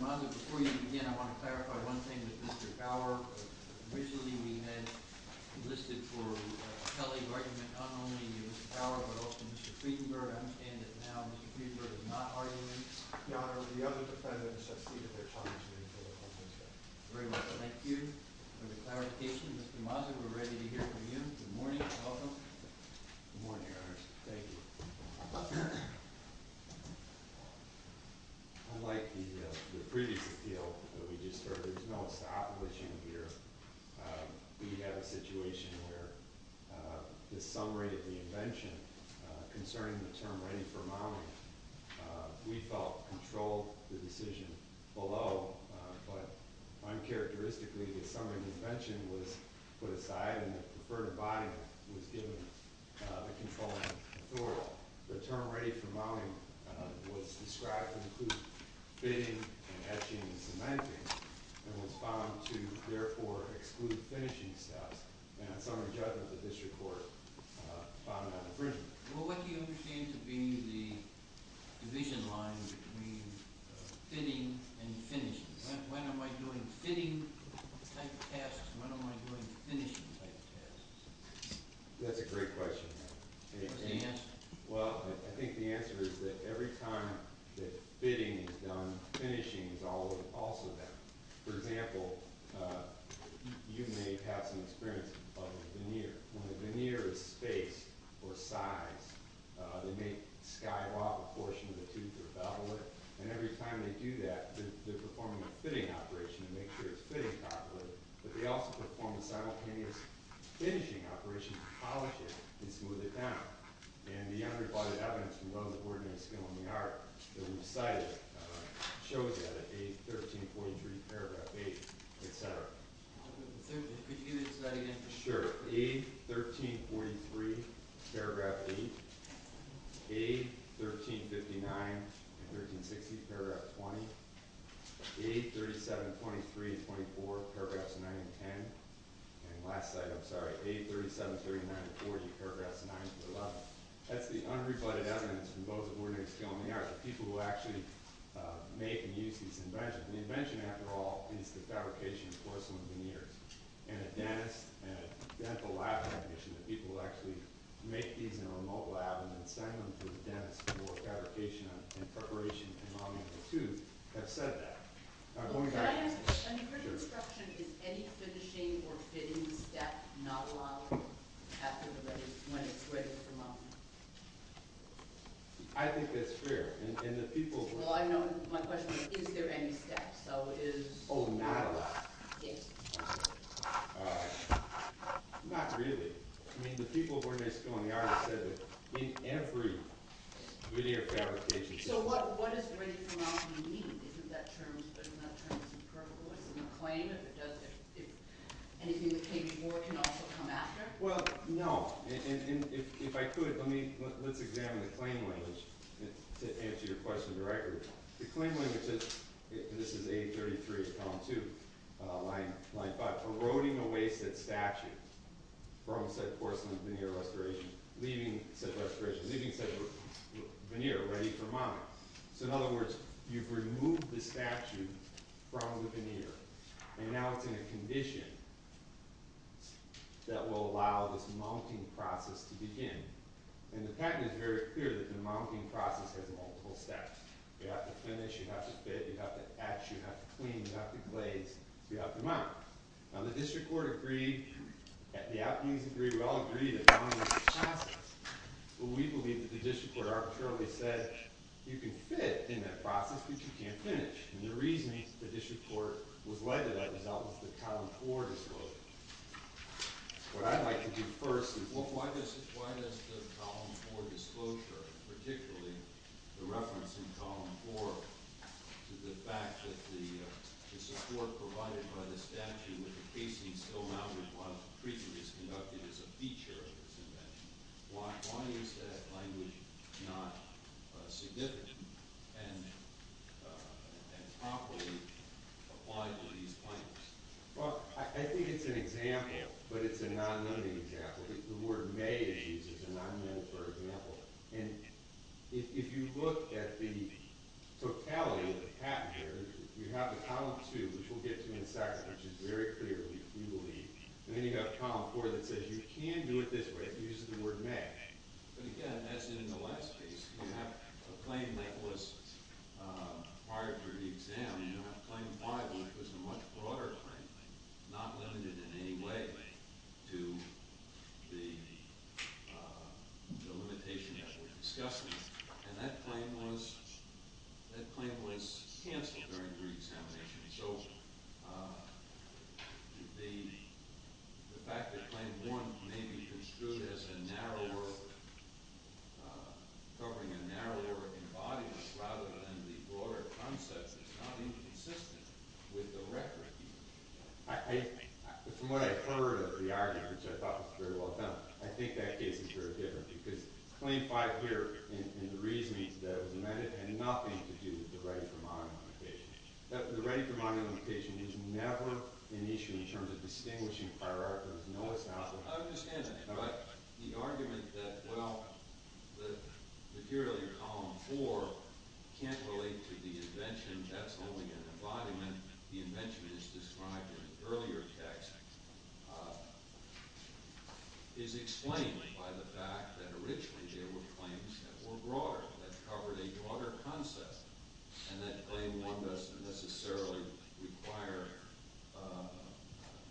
Mr. Mazza, before you begin, I want to clarify one thing with Mr. Bauer. Mr. Mazza, we're ready to hear from you. Good morning and welcome. Good morning, Your Honors. Thank you. Unlike the previous appeal that we just heard, there's no stoppage in here. We have a situation where the summary of the invention concerning the term ready for mounting, we felt controlled the decision below. But uncharacteristically, the summary of the invention was put aside and the preferred body was given the controlling authority. The term ready for mounting was described to include fitting and etching and cementing and was found to therefore exclude finishing steps. And on summary judgment, the district court found an infringement. What do you understand to be the division line between fitting and finishing? When am I doing fitting type tasks and when am I doing finishing type tasks? That's a great question. What's the answer? Well, I think the answer is that every time that fitting is done, finishing is also done. For example, you may have some experience of a veneer. When a veneer is spaced or sized, it may skyrocket a portion of the tooth or bevel it. And every time they do that, they're performing a fitting operation to make sure it's fitting properly. But they also perform a simultaneous finishing operation to polish it and smooth it down. And the unreported evidence from those of ordinary skill in the art that we cited shows that at A1343, paragraph 8, et cetera. Could you do that again? Sure. A1343, paragraph 8. A1359 and 1360, paragraph 20. A3723, paragraph 9 and 10. And last slide, I'm sorry. A3739-4, paragraphs 9-11. That's the unreported evidence from those of ordinary skill in the art. The people who actually make and use these inventions. The invention, after all, is the fabrication of porcelain veneers. And a dentist and a dental lab technician, the people who actually make these in a remote lab and then send them to the dentist for fabrication and preparation and modeling of the tooth, have said that. I mean, for construction, is any finishing or fitting step not allowed when it's ready for modeling? I think that's fair. My question is, is there any step? Oh, no. Yes. Not really. I mean, the people of ordinary skill in the art have said that in every veneer fabrication. So what does ready for modeling mean? Isn't that term superficial? Isn't it a claim? Anything that came before can also come after? Well, no. And if I could, let's examine the claim language to answer your question directly. The claim language is, this is 833, column 2, line 5. Eroding away said statue from said porcelain veneer restoration, leaving said restoration, leaving said veneer ready for modeling. So in other words, you've removed the statue from the veneer. And now it's in a condition that will allow this mounting process to begin. And the patent is very clear that the mounting process has multiple steps. You have to finish. You have to fit. You have to etch. You have to clean. You have to glaze. You have to mount. Now, the district court agreed. The appeals agreed. We all agreed that the mounting was a process. But we believe that the district court arbitrarily said, you can fit in that process, but you can't finish. And the reasoning that the district court was led to that result was the column 4 disclosure. What I'd like to do first is, why does the column 4 disclosure, particularly the reference in column 4 to the fact that the support provided by the statue with the casing still mounted was treated as a feature of this invention? Why is that language not significant and properly applied to these claims? Well, I think it's an example, but it's a non-nonexample. The word may is used as a non-nonexample. And if you look at the totality of the patent here, you have the column 2, which we'll get to in a second, which is very clear, we believe. And then you have column 4 that says you can do it this way if you use the word may. But again, as in the last case, you have a claim that was prior to the exam. And you have claim 5, which was a much broader claim, not limited in any way to the limitation that we're discussing. And that claim was canceled during reexamination. So the fact that claim 1 may be construed as a narrower, covering a narrower body rather than the broader concept is not inconsistent with the record. From what I've heard of the argument, which I thought was very well done, I think that case is very different. Because claim 5 here in the reasoning that it was amended had nothing to do with the right for modern communication. The right for modern communication is never an issue in terms of distinguishing hierarchies. No, it's not. I understand that. But the argument that, well, the material in column 4 can't relate to the invention, that's only an embodiment. The invention is described in the earlier text, is explained by the fact that originally there were claims that were broader, that covered a broader concept, and that claim 1 doesn't necessarily require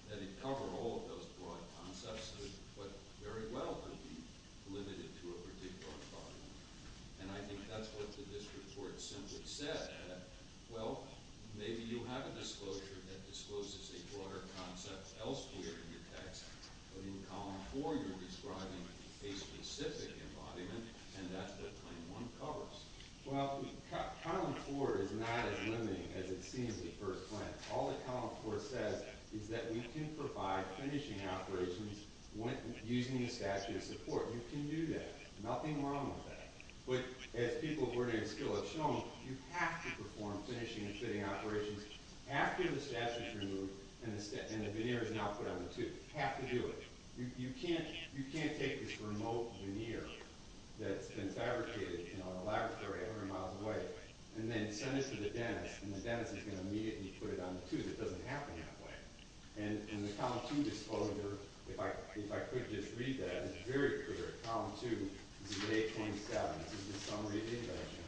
that it cover all of those broad concepts, but very well could be limited to a particular embodiment. And I think that's what the district court simply said, that, well, maybe you have a disclosure that discloses a broader concept elsewhere in the text, but in column 4 you're describing a specific embodiment, and that's what claim 1 covers. Well, column 4 is not as limiting as it seems at first glance. All that column 4 says is that we can provide finishing operations using the statute of support. You can do that. Nothing wrong with that. But as people of learning and skill have shown, you have to perform finishing and fitting operations after the statute is removed and the veneer is now put on the tooth. You have to do it. You can't take this remote veneer that's been fabricated in a laboratory a hundred miles away and then send it to the dentist, and the dentist is going to immediately put it on the tooth. It doesn't happen that way. And in the column 2 disclosure, if I could just read that, it's very clear. Column 2 is at 827. This is the summary of the invention,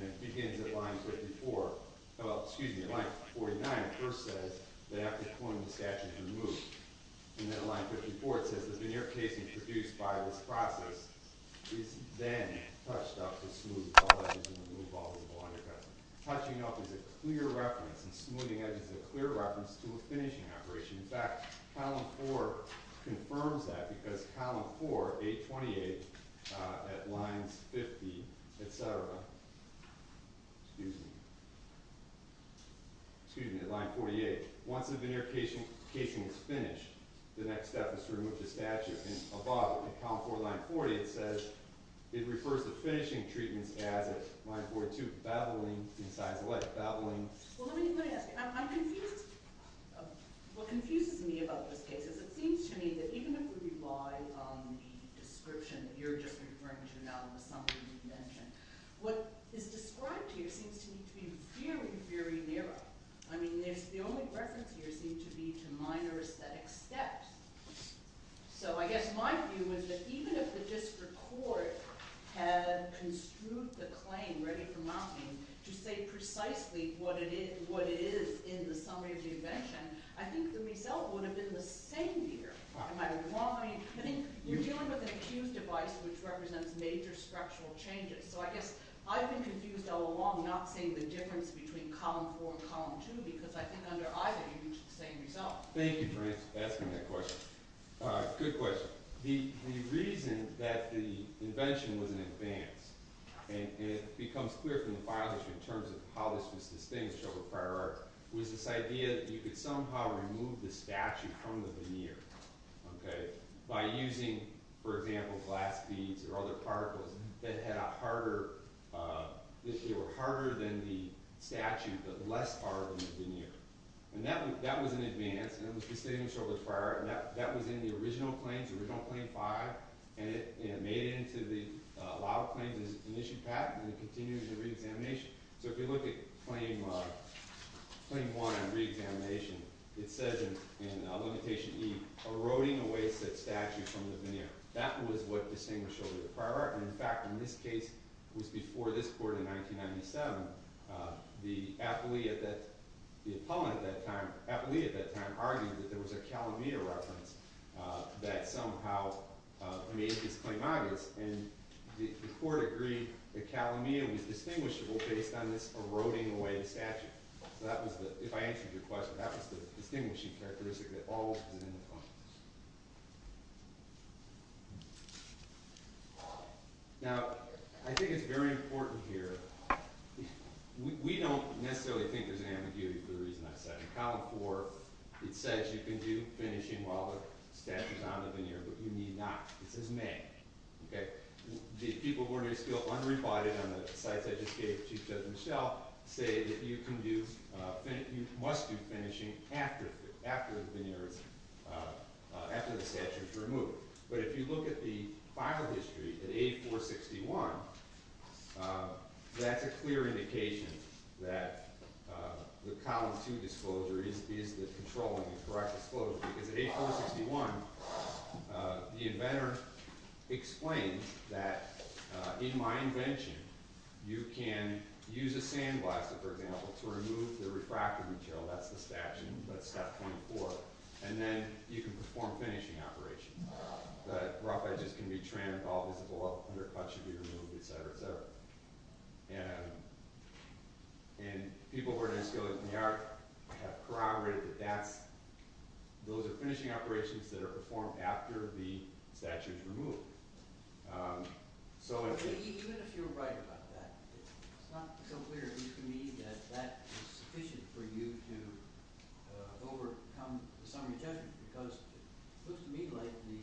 and it begins at line 54. Well, excuse me, at line 49, it first says that after cloning the statute is removed. And then at line 54 it says the veneer casing produced by this process is then touched up to smooth all edges and remove all visible undercuts. Touching up is a clear reference, and smoothing edges is a clear reference to a finishing operation. In fact, column 4 confirms that because column 4, 828, at line 50, et cetera, excuse me, excuse me, at line 48, once the veneer casing is finished, the next step is to remove the statute. And above, in column 4, line 40, it says it refers to finishing treatments as at line 42, babbling in size alike, babbling. Well, let me ask you, I'm confused. What confuses me about this case is it seems to me that even if we rely on the description that you're just referring to now, the summary of the invention, what is described here seems to me to be very, very narrow. I mean, the only reference here seems to be to minor aesthetic steps. So I guess my view is that even if the district court had construed the claim ready for mounting to say precisely what it is in the summary of the invention, I think the result would have been the same here. I mean, you're dealing with an accused device which represents major structural changes. So I guess I've been confused all along not seeing the difference between column 4 and column 2 because I think under either you reach the same result. Thank you for asking that question. Good question. The reason that the invention was an advance, and it becomes clear from the final issue in terms of how this was distinguished over prior art, was this idea that you could somehow remove the statute from the veneer by using, for example, glass beads or other particles that were harder than the statute, but less hard than the veneer. And that was an advance. And it was distinguished over prior art. And that was in the original claims, original claim 5. And it made it into the law of claims as an issued patent. And it continues the reexamination. So if you look at claim 1 on reexamination, it says in limitation E, eroding away such statute from the veneer. That was what distinguished it over prior art. In fact, in this case, it was before this court in 1997, the appellee at that time argued that there was a Calamia reference that somehow made this claim obvious. And the court agreed that Calamia was distinguishable based on this eroding away statute. So that was the, if I answered your question, that was the distinguishing characteristic that always was in the claim. Now, I think it's very important here. We don't necessarily think there's ambiguity for the reason I said. In column 4, it says you can do finishing while the statute is on the veneer, but you need not. It says may. The people who are still unreported on the sites I just gave, Chief Judge Michelle, say that you can do, you must do finishing after the veneer is, after the statute is removed. But if you look at the file history at 8461, that's a clear indication that the column 2 disclosure is the controlling and correct disclosure. Because at 8461, the inventor explains that in my invention, you can use a sandblaster, for example, to remove the refractory material. That's the statute, but it's step 24. And then you can perform finishing operations. The rough edges can be trimmed. All visible undercut should be removed, et cetera, et cetera. And people who are in this case have corroborated that those are finishing operations that are performed after the statute is removed. Even if you're right about that, it's not so clear to me that that is sufficient for you to overcome the summary judgment. Because it looks to me like the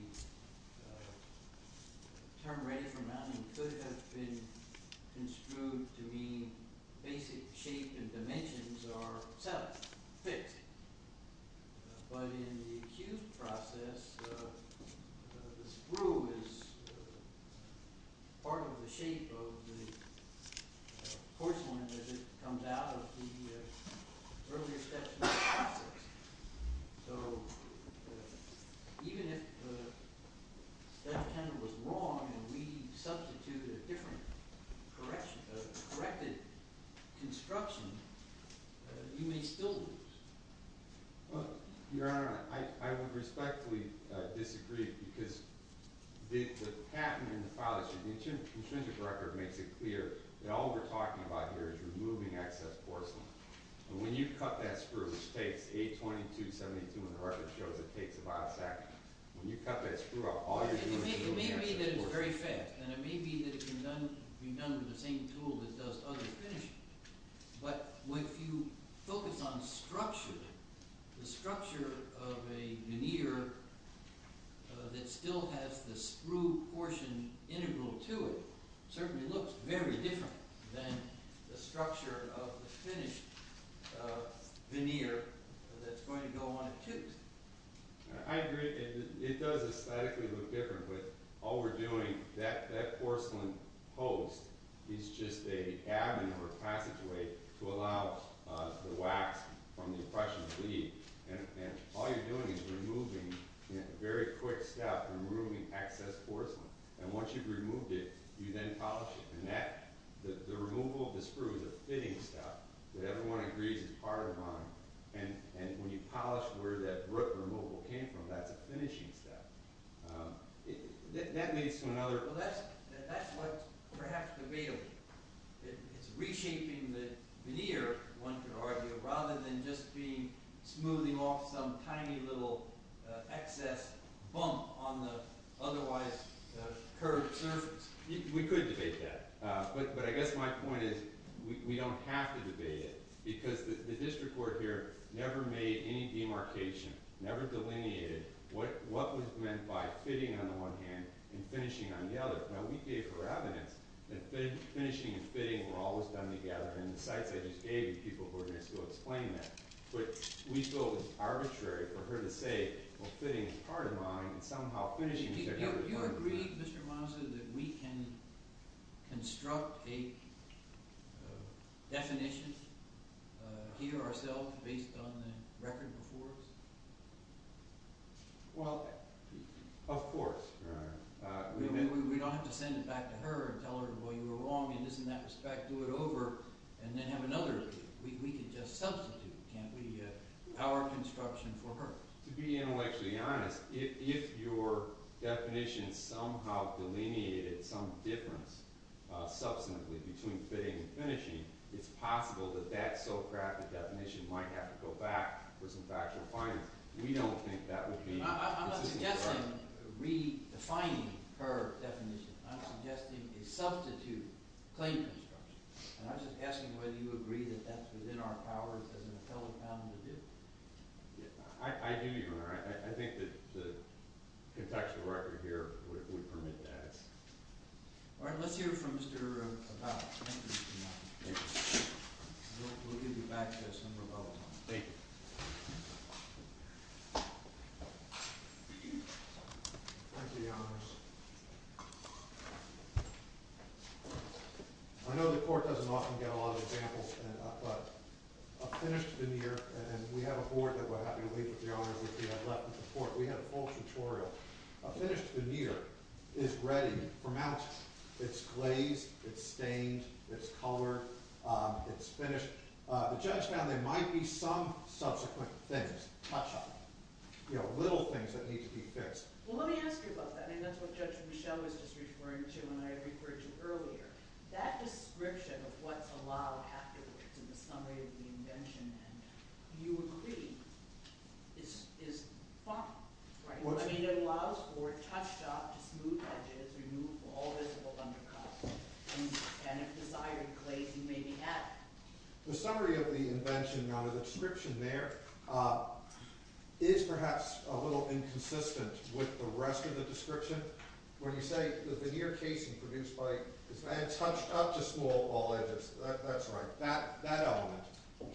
term ready for mounting could have been construed to mean basic shape and dimensions are settled, fixed. But in the acute process, the sprue is part of the shape of the porcelain as it comes out of the earlier steps in the process. So even if the statute was wrong and we substitute a different corrected construction, you may still lose. Your Honor, I would respectfully disagree, because the patent in the file that's in the contingent record makes it clear that all we're talking about here is removing excess porcelain. And when you cut that sprue, which takes 822.72 in the record, it shows it takes about a second. When you cut that sprue up, all you're doing is removing excess porcelain. It may be that it's very fast, and it may be that it can be done with the same tool that does other finishing. But if you focus on structure, the structure of a veneer that still has the sprue portion integral to it certainly looks very different than the structure of the finished veneer that's going to go on it too. I agree, it does aesthetically look different, but all we're doing, that porcelain post is just an avenue or passageway to allow the wax from the impression to leave. And all you're doing is removing, in a very quick step, removing excess porcelain. And once you've removed it, you then polish it. And the removal of the sprue is a fitting step that everyone agrees is part of mine. And when you polish where that removal came from, that's a finishing step. That's what's perhaps debatable. It's reshaping the veneer, one could argue, rather than just smoothing off some tiny little excess bump on the otherwise curved surface. We could debate that. But I guess my point is, we don't have to debate it. Because the district court here never made any demarcation, never delineated what was meant by fitting on the one hand and finishing on the other. Now we gave her evidence that finishing and fitting were always done together. And the sites I just gave you, people who are going to still explain that. But we feel it's arbitrary for her to say, well fitting is part of mine, and somehow finishing is a part of mine. Do you agree, Mr. Mazza, that we can construct a definition here ourselves based on the record before us? Well, of course. We don't have to send it back to her and tell her, well you were wrong in this and that respect. Do it over and then have another review. We could just substitute, can't we? Our construction for her. To be intellectually honest, if your definition somehow delineated some difference substantively between fitting and finishing, it's possible that that so crafted definition might have to go back for some factual findings. We don't think that would be consistent. I'm not suggesting redefining her definition. I'm suggesting a substitute claim construction. And I'm just asking whether you agree that that's within our powers as an appellate panel to do. I do, Your Honor. I think that the contextual record here would permit that. All right. Let's hear from Mr. Abbott. Thank you, Your Honor. Thank you. We'll give you back just some rebuttal time. Thank you. Thank you, Your Honor. I know the court doesn't often get a lot of examples, but a finished veneer, and we have a board that we're happy to leave with, Your Honor. We had a full tutorial. A finished veneer is ready for mounting. It's glazed. It's stained. It's colored. It's finished. The judge found there might be some subsequent things. Touch up. You know, little things that need to be fixed. Well, let me ask you about that. I mean, that's what Judge Michel was just referring to and I referred to earlier. That description of what's allowed afterwards in the summary of the invention, and you agree, is fine. Right. I mean, it allows for a touch-up to smooth edges, remove all visible undercuts, and, again, if desired, glaze and maybe add. The summary of the invention, now the description there, is perhaps a little inconsistent with the rest of the description. When you say the veneer casing produced by, it's been touched up to smooth all edges. That's right. That element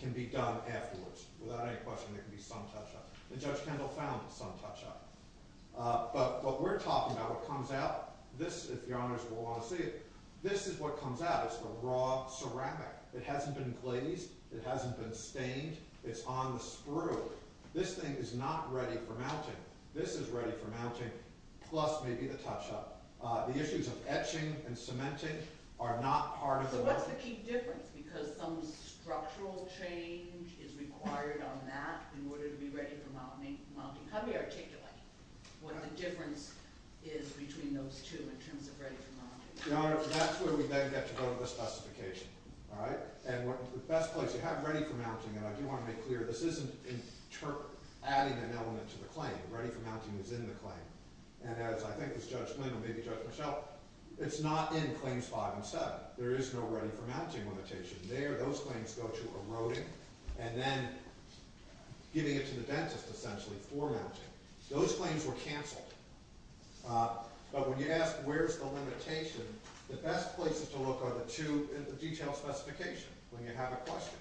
can be done afterwards. Without any question, there can be some touch-up. And Judge Kendall found some touch-up. But what we're talking about, what comes out, this, if Your Honors will want to see it, this is what comes out. That's the raw ceramic. It hasn't been glazed. It hasn't been stained. It's on the sprue. This thing is not ready for mounting. This is ready for mounting, plus maybe the touch-up. The issues of etching and cementing are not part of the— So what's the key difference? Because some structural change is required on that in order to be ready for mounting. How do we articulate what the difference is between those two in terms of ready for mounting? Your Honor, that's where we then get to go to the specification. All right? And the best place you have ready for mounting, and I do want to make clear, this isn't adding an element to the claim. Ready for mounting is in the claim. And as I think as Judge Lynn or maybe Judge Michelle, it's not in Claims 5 and 7. There is no ready for mounting limitation there. Those claims go to eroding and then giving it to the dentist, essentially, for mounting. Those claims were canceled. But when you ask where's the limitation, the best places to look are the two in the detailed specification when you have a question.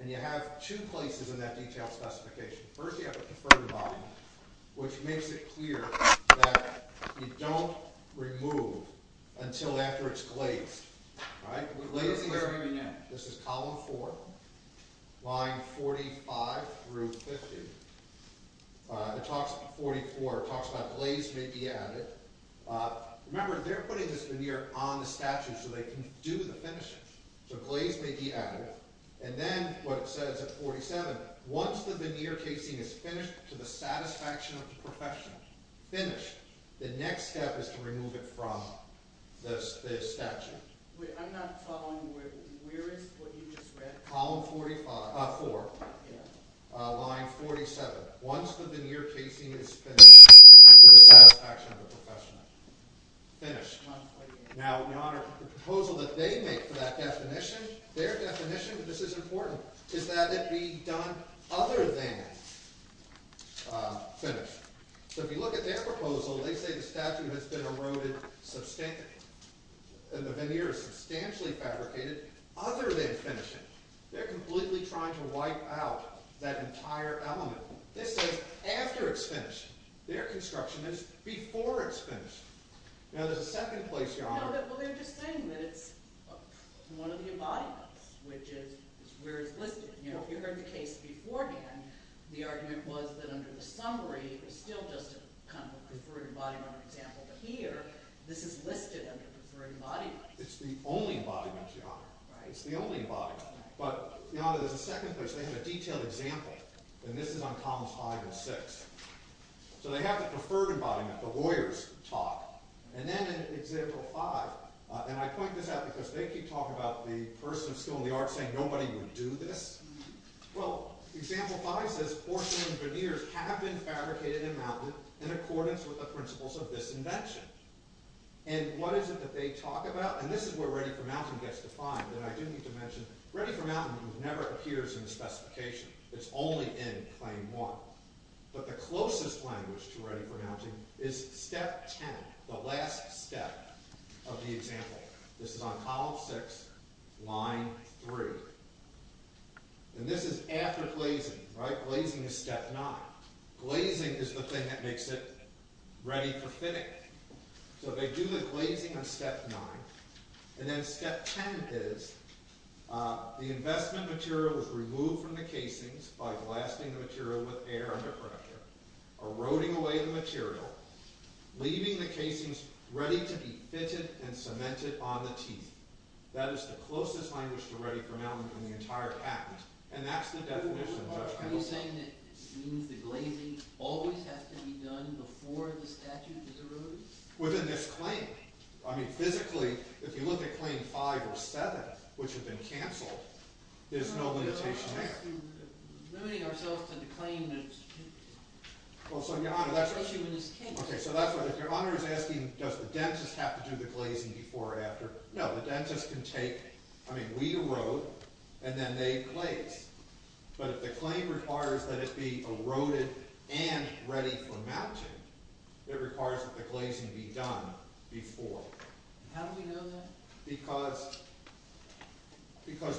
And you have two places in that detailed specification. First, you have the conferred line, which makes it clear that you don't remove until after it's glazed. All right? This is column 4, line 45 through 50. It talks about 44. It talks about glaze may be added. Remember, they're putting this veneer on the statute so they can do the finishing. So glaze may be added. And then what it says at 47, once the veneer casing is finished to the satisfaction of the professional, finished, the next step is to remove it from the statute. Wait, I'm not following. Where is what you just read? Column 4, line 47. Once the veneer casing is finished to the satisfaction of the professional. Finished. Now, in honor of the proposal that they make for that definition, their definition, and this is important, is that it be done other than finished. So if you look at their proposal, they say the statute has been eroded substantially. And the veneer is substantially fabricated other than finished. They're completely trying to wipe out that entire element. This is after it's finished. Their construction is before it's finished. Now, there's a second place you're honoring. Well, they're just saying that it's one of the embodiments, which is where it's listed. You know, if you heard the case beforehand, the argument was that under the summary, it was still just kind of a preferred embodiment example. Here, this is listed under preferred embodiment. It's the only embodiment you honor. Right. It's the only embodiment. But, you know, there's a second place. They have a detailed example. And this is on columns 5 and 6. So they have the preferred embodiment, the lawyers talk. And then in example 5, and I point this out because they keep talking about the person of skill and the art saying nobody would do this. Well, example 5 says porcelain veneers have been fabricated and mounted in accordance with the principles of this invention. And what is it that they talk about? And this is where Ready for Mounting gets defined. And I do need to mention Ready for Mounting never appears in the specification. It's only in claim 1. But the closest language to Ready for Mounting is step 10, the last step of the example. This is on column 6, line 3. And this is after glazing. Right. Glazing is step 9. Glazing is the thing that makes it ready for fitting. So they do the glazing on step 9. And then step 10 is the investment material is removed from the casings by blasting the material with air under pressure, eroding away the material, leaving the casings ready to be fitted and cemented on the teeth. That is the closest language to Ready for Mounting in the entire patent. And that's the definition, Judge Pendleton. Are you saying that it means the glazing always has to be done before the statute is eroded? Within this claim. I mean, physically, if you look at claim 5 or 7, which have been canceled, there's no limitation there. We're limiting ourselves to the claim that it's a limitation when it's canceled. Okay. So that's what, if Your Honor is asking, does the dentist have to do the glazing before or after? No. The dentist can take, I mean, we erode, and then they glaze. But if the claim requires that it be eroded and ready for mounting, it requires that the glazing be done before. How do we know that? Because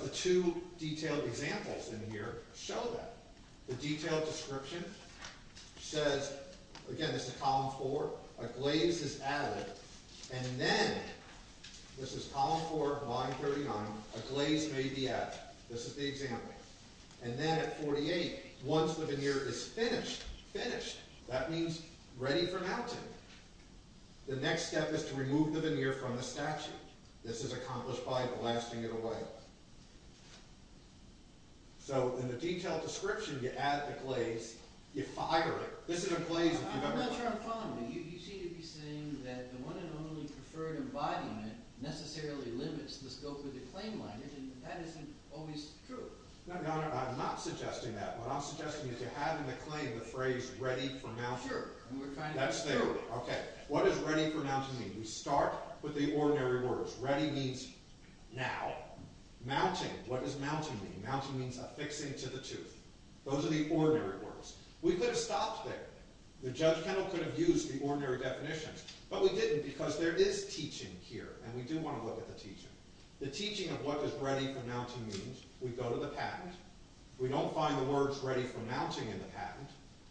the two detailed examples in here show that. The detailed description says, again, this is column 4, a glaze is added. And then, this is column 4, line 39, a glaze may be added. This is the example. And then at 48, once the veneer is finished, finished, that means ready for mounting. The next step is to remove the veneer from the statute. This is accomplished by blasting it away. So in the detailed description, you add the glaze, you fire it. This is a glaze, if you don't mind. I'm not sure I'm following, but you seem to be saying that the one and only preferred embodiment necessarily limits the scope of the claim line. That isn't always true. No, Your Honor, I'm not suggesting that. What I'm suggesting is you're having the claim, the phrase, ready for mounting. Sure. That's there. Okay. What does ready for mounting mean? We start with the ordinary words. Ready means now. Mounting, what does mounting mean? Mounting means affixing to the tooth. Those are the ordinary words. We could have stopped there. The judge could have used the ordinary definitions. But we didn't, because there is teaching here, and we do want to look at the teaching. The teaching of what does ready for mounting mean, we go to the patent. We don't find the words ready for mounting in the patent,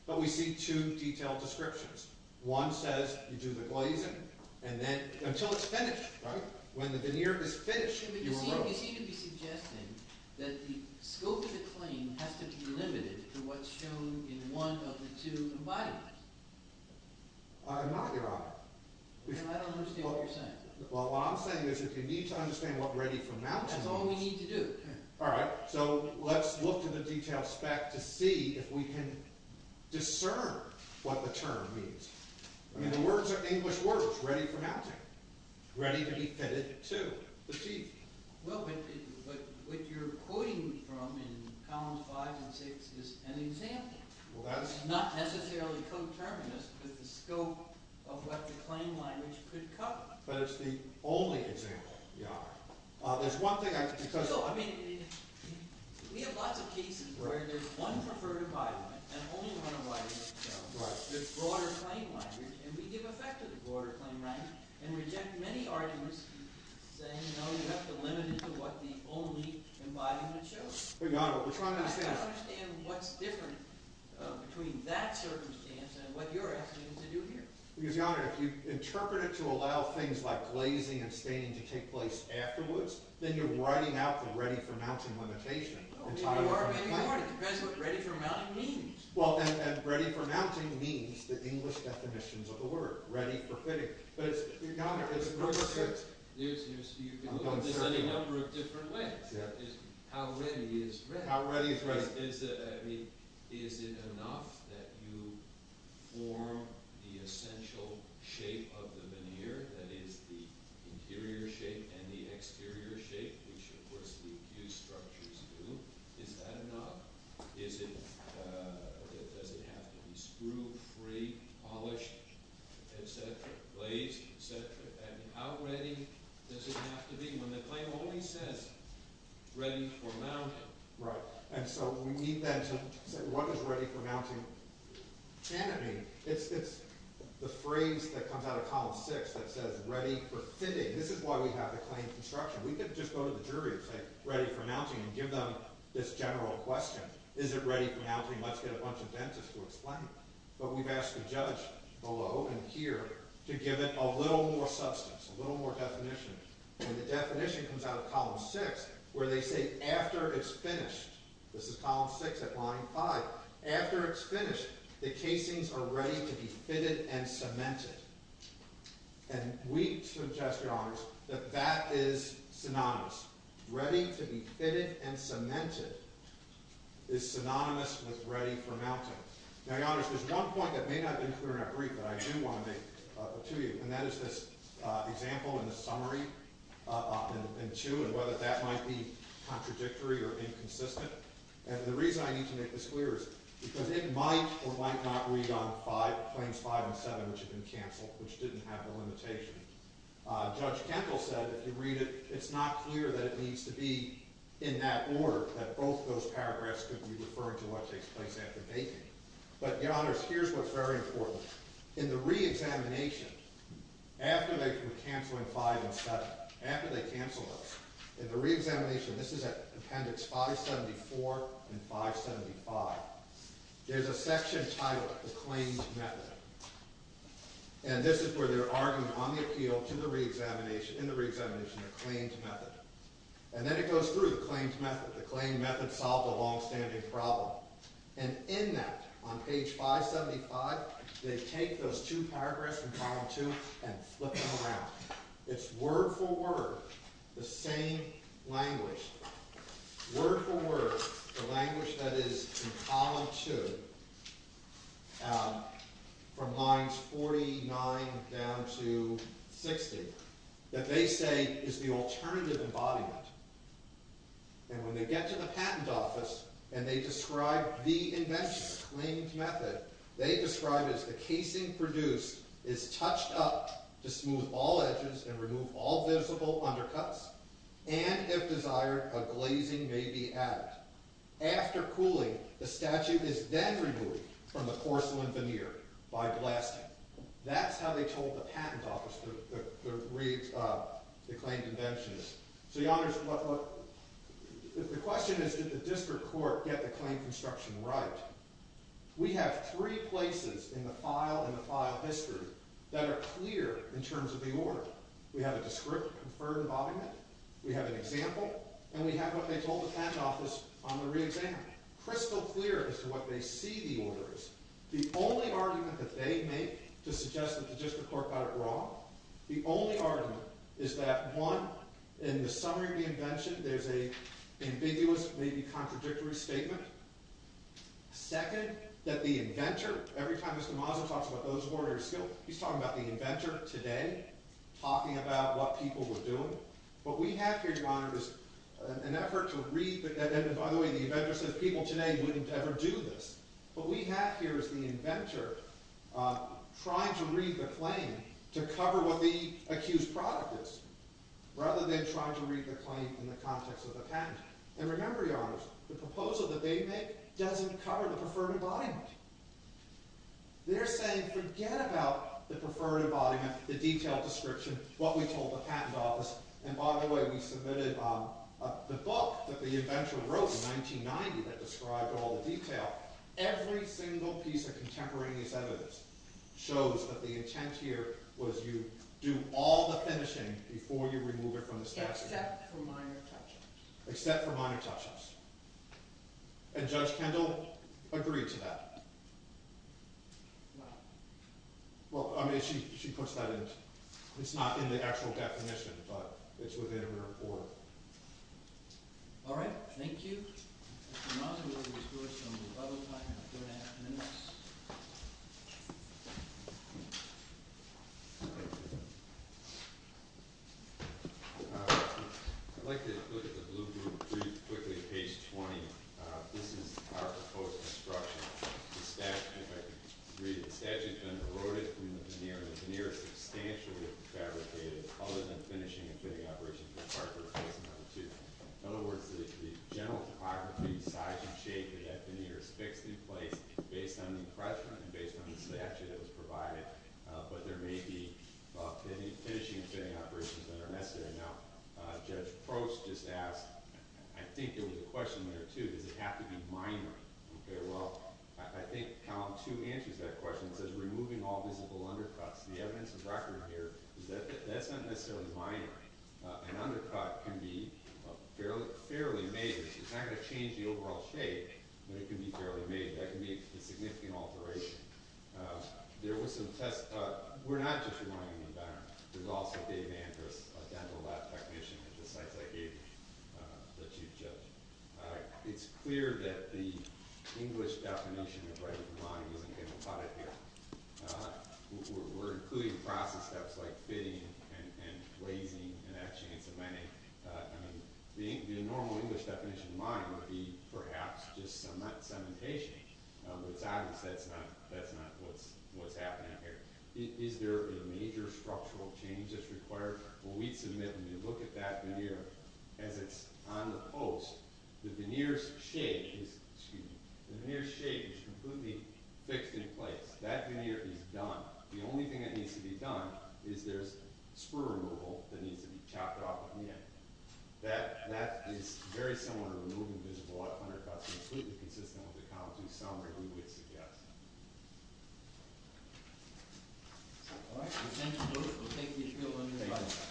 but we see two detailed descriptions. One says you do the glazing, and then until it's finished, right? When the veneer is finished, you remove it. But you seem to be suggesting that the scope of the claim has to be limited to what's shown in one of the two embodiments. I'm not, Your Honor. Well, I don't understand what you're saying. Well, what I'm saying is if you need to understand what ready for mounting means... That's all we need to do. All right. So let's look at the detailed spec to see if we can discern what the term means. I mean, the words are English words, ready for mounting. Ready to be fitted to the teeth. Well, but what you're quoting me from in columns five and six is an example. Well, that's... Not necessarily co-terminus, but the scope of what the claim language could cover. But it's the only example, Your Honor. There's one thing I... So, I mean, we have lots of cases where there's one preferred embodiment and only one embodiment. Right. There's broader claim language, and we give effect to the broader claim language and reject many arguments saying, no, you have to limit it to what the only embodiment shows. But, Your Honor, we're trying to understand... I don't understand what's different between that circumstance and what you're asking me to do here. Because, Your Honor, if you interpret it to allow things like glazing and staining to take place afterwards, then you're writing out the ready for mounting limitation entirely on the claim. It depends what ready for mounting means. Well, then ready for mounting means the English definitions of the word. Ready for fitting. But, Your Honor, it's... There's a number of different ways. How ready is ready? How ready is ready. Is it enough that you form the essential shape of the veneer, that is, the interior shape and the exterior shape, which, of course, the accused structures do? Is that enough? Does it have to be screw-free, polished, et cetera, glazed, et cetera? How ready does it have to be when the claim only says ready for mounting? Right. And so we need, then, to say what is ready for mounting? It's the phrase that comes out of Column 6 that says ready for fitting. This is why we have the claim construction. We could just go to the jury and say ready for mounting and give them this general question. Is it ready for mounting? Let's get a bunch of dentists to explain it. But we've asked the judge below and here to give it a little more substance, a little more definition. And the definition comes out of Column 6 where they say after it's finished. This is Column 6 at Line 5. After it's finished, the casings are ready to be fitted and cemented. And we suggest, Your Honors, that that is synonymous. Ready to be fitted and cemented is synonymous with ready for mounting. Now, Your Honors, there's one point that may not have been clear enough to read that I do want to make to you, and that is this example in the summary in 2 and whether that might be contradictory or inconsistent. And the reason I need to make this clear is because it might or might not read on Claims 5 and 7, which have been canceled, which didn't have the limitation. Judge Kendall said if you read it, it's not clear that it needs to be in that order, that both those paragraphs could be referring to what takes place after baking. But, Your Honors, here's what's very important. In the reexamination, after they cancel in 5 and 7, after they cancel those, in the reexamination, this is at Appendix 574 and 575, there's a section titled the Claims Method. And this is where they're arguing on the appeal to the reexamination, in the reexamination, the Claims Method. And then it goes through the Claims Method. The Claim Method solved a longstanding problem. And in that, on page 575, they take those two paragraphs from Column 2 and flip them around. It's word for word the same language, word for word, the language that is in Column 2, from lines 49 down to 60, that they say is the alternative embodiment. And when they get to the patent office and they describe the invention, the Claims Method, they describe it as the casing produced is touched up to smooth all edges and remove all visible undercuts, and, if desired, a glazing may be added. After cooling, the statute is then removed from the porcelain veneer by blasting. That's how they told the patent office the claim convention is. So the question is, did the district court get the claim construction right? We have three places in the file and the file history that are clear in terms of the order. We have a descriptive, confirmed embodiment. We have an example. And we have what they told the patent office on the re-exam. Crystal clear as to what they see the order as. The only argument that they make to suggest that the district court got it wrong, the only argument is that, one, in the summary of the invention, there's an ambiguous, maybe contradictory statement. Second, that the inventor, every time Mr. Mazza talks about those orders, he's talking about the inventor today, talking about what people were doing. What we have here, Your Honor, is an effort to read the— and, by the way, the inventor said people today wouldn't ever do this. What we have here is the inventor trying to read the claim to cover what the accused product is, rather than trying to read the claim in the context of the patent. And remember, Your Honor, the proposal that they make doesn't cover the confirmed embodiment. They're saying forget about the confirmed embodiment, the detailed description, what we told the patent office. And, by the way, we submitted the book that the inventor wrote in 1990 that described all the detail. Every single piece of contemporaneous evidence shows that the intent here was you do all the finishing before you remove it from the statute. Except for minor touch-ups. Except for minor touch-ups. And Judge Kendall agreed to that. Well, I mean, she puts that in—it's not in the actual definition, but it's within her report. All right. Thank you. Mr. Mazza, we're going to discuss some of the level time in the third half minutes. I'd like to look at the blue group pretty quickly. Page 20. This is our proposed construction. The statute, if I could read it. The statute's been eroded from the veneer. The veneer is substantially refabricated, other than finishing and fitting operations in Part I and Part II. In other words, the general topography, size, and shape of that veneer is fixed in place based on the impression and based on the statute that was provided. But there may be finishing and fitting operations that are necessary. Now, Judge Prost just asked—I think there was a question there, too. Does it have to be minor? Okay, well, I think Column 2 answers that question. It says removing all visible undercuts. The evidence of record here is that that's not necessarily minor. An undercut can be fairly major. It's not going to change the overall shape, but it can be fairly major. That can be a significant alteration. There were some tests—we're not just removing the undercut. There's also Dave Andrews, a dental lab technician at the sites I gave you that you've judged. It's clear that the English definition of right of remodeling isn't going to cut it here. We're including process steps like fitting and glazing and that chain of many. I mean, the normal English definition of modeling would be perhaps just cementation. But it's obvious that's not what's happening here. Is there a major structural change that's required? Well, we'd submit—I mean, look at that veneer as it's on the post. The veneer's shape is completely fixed in place. That veneer is done. The only thing that needs to be done is there's spur removal that needs to be chopped off at the end. That is very similar to removing visible undercuts, completely consistent with the Com2Sum review we'd suggest. All right. Well, thank you, Bruce. We'll take these bills under the bus.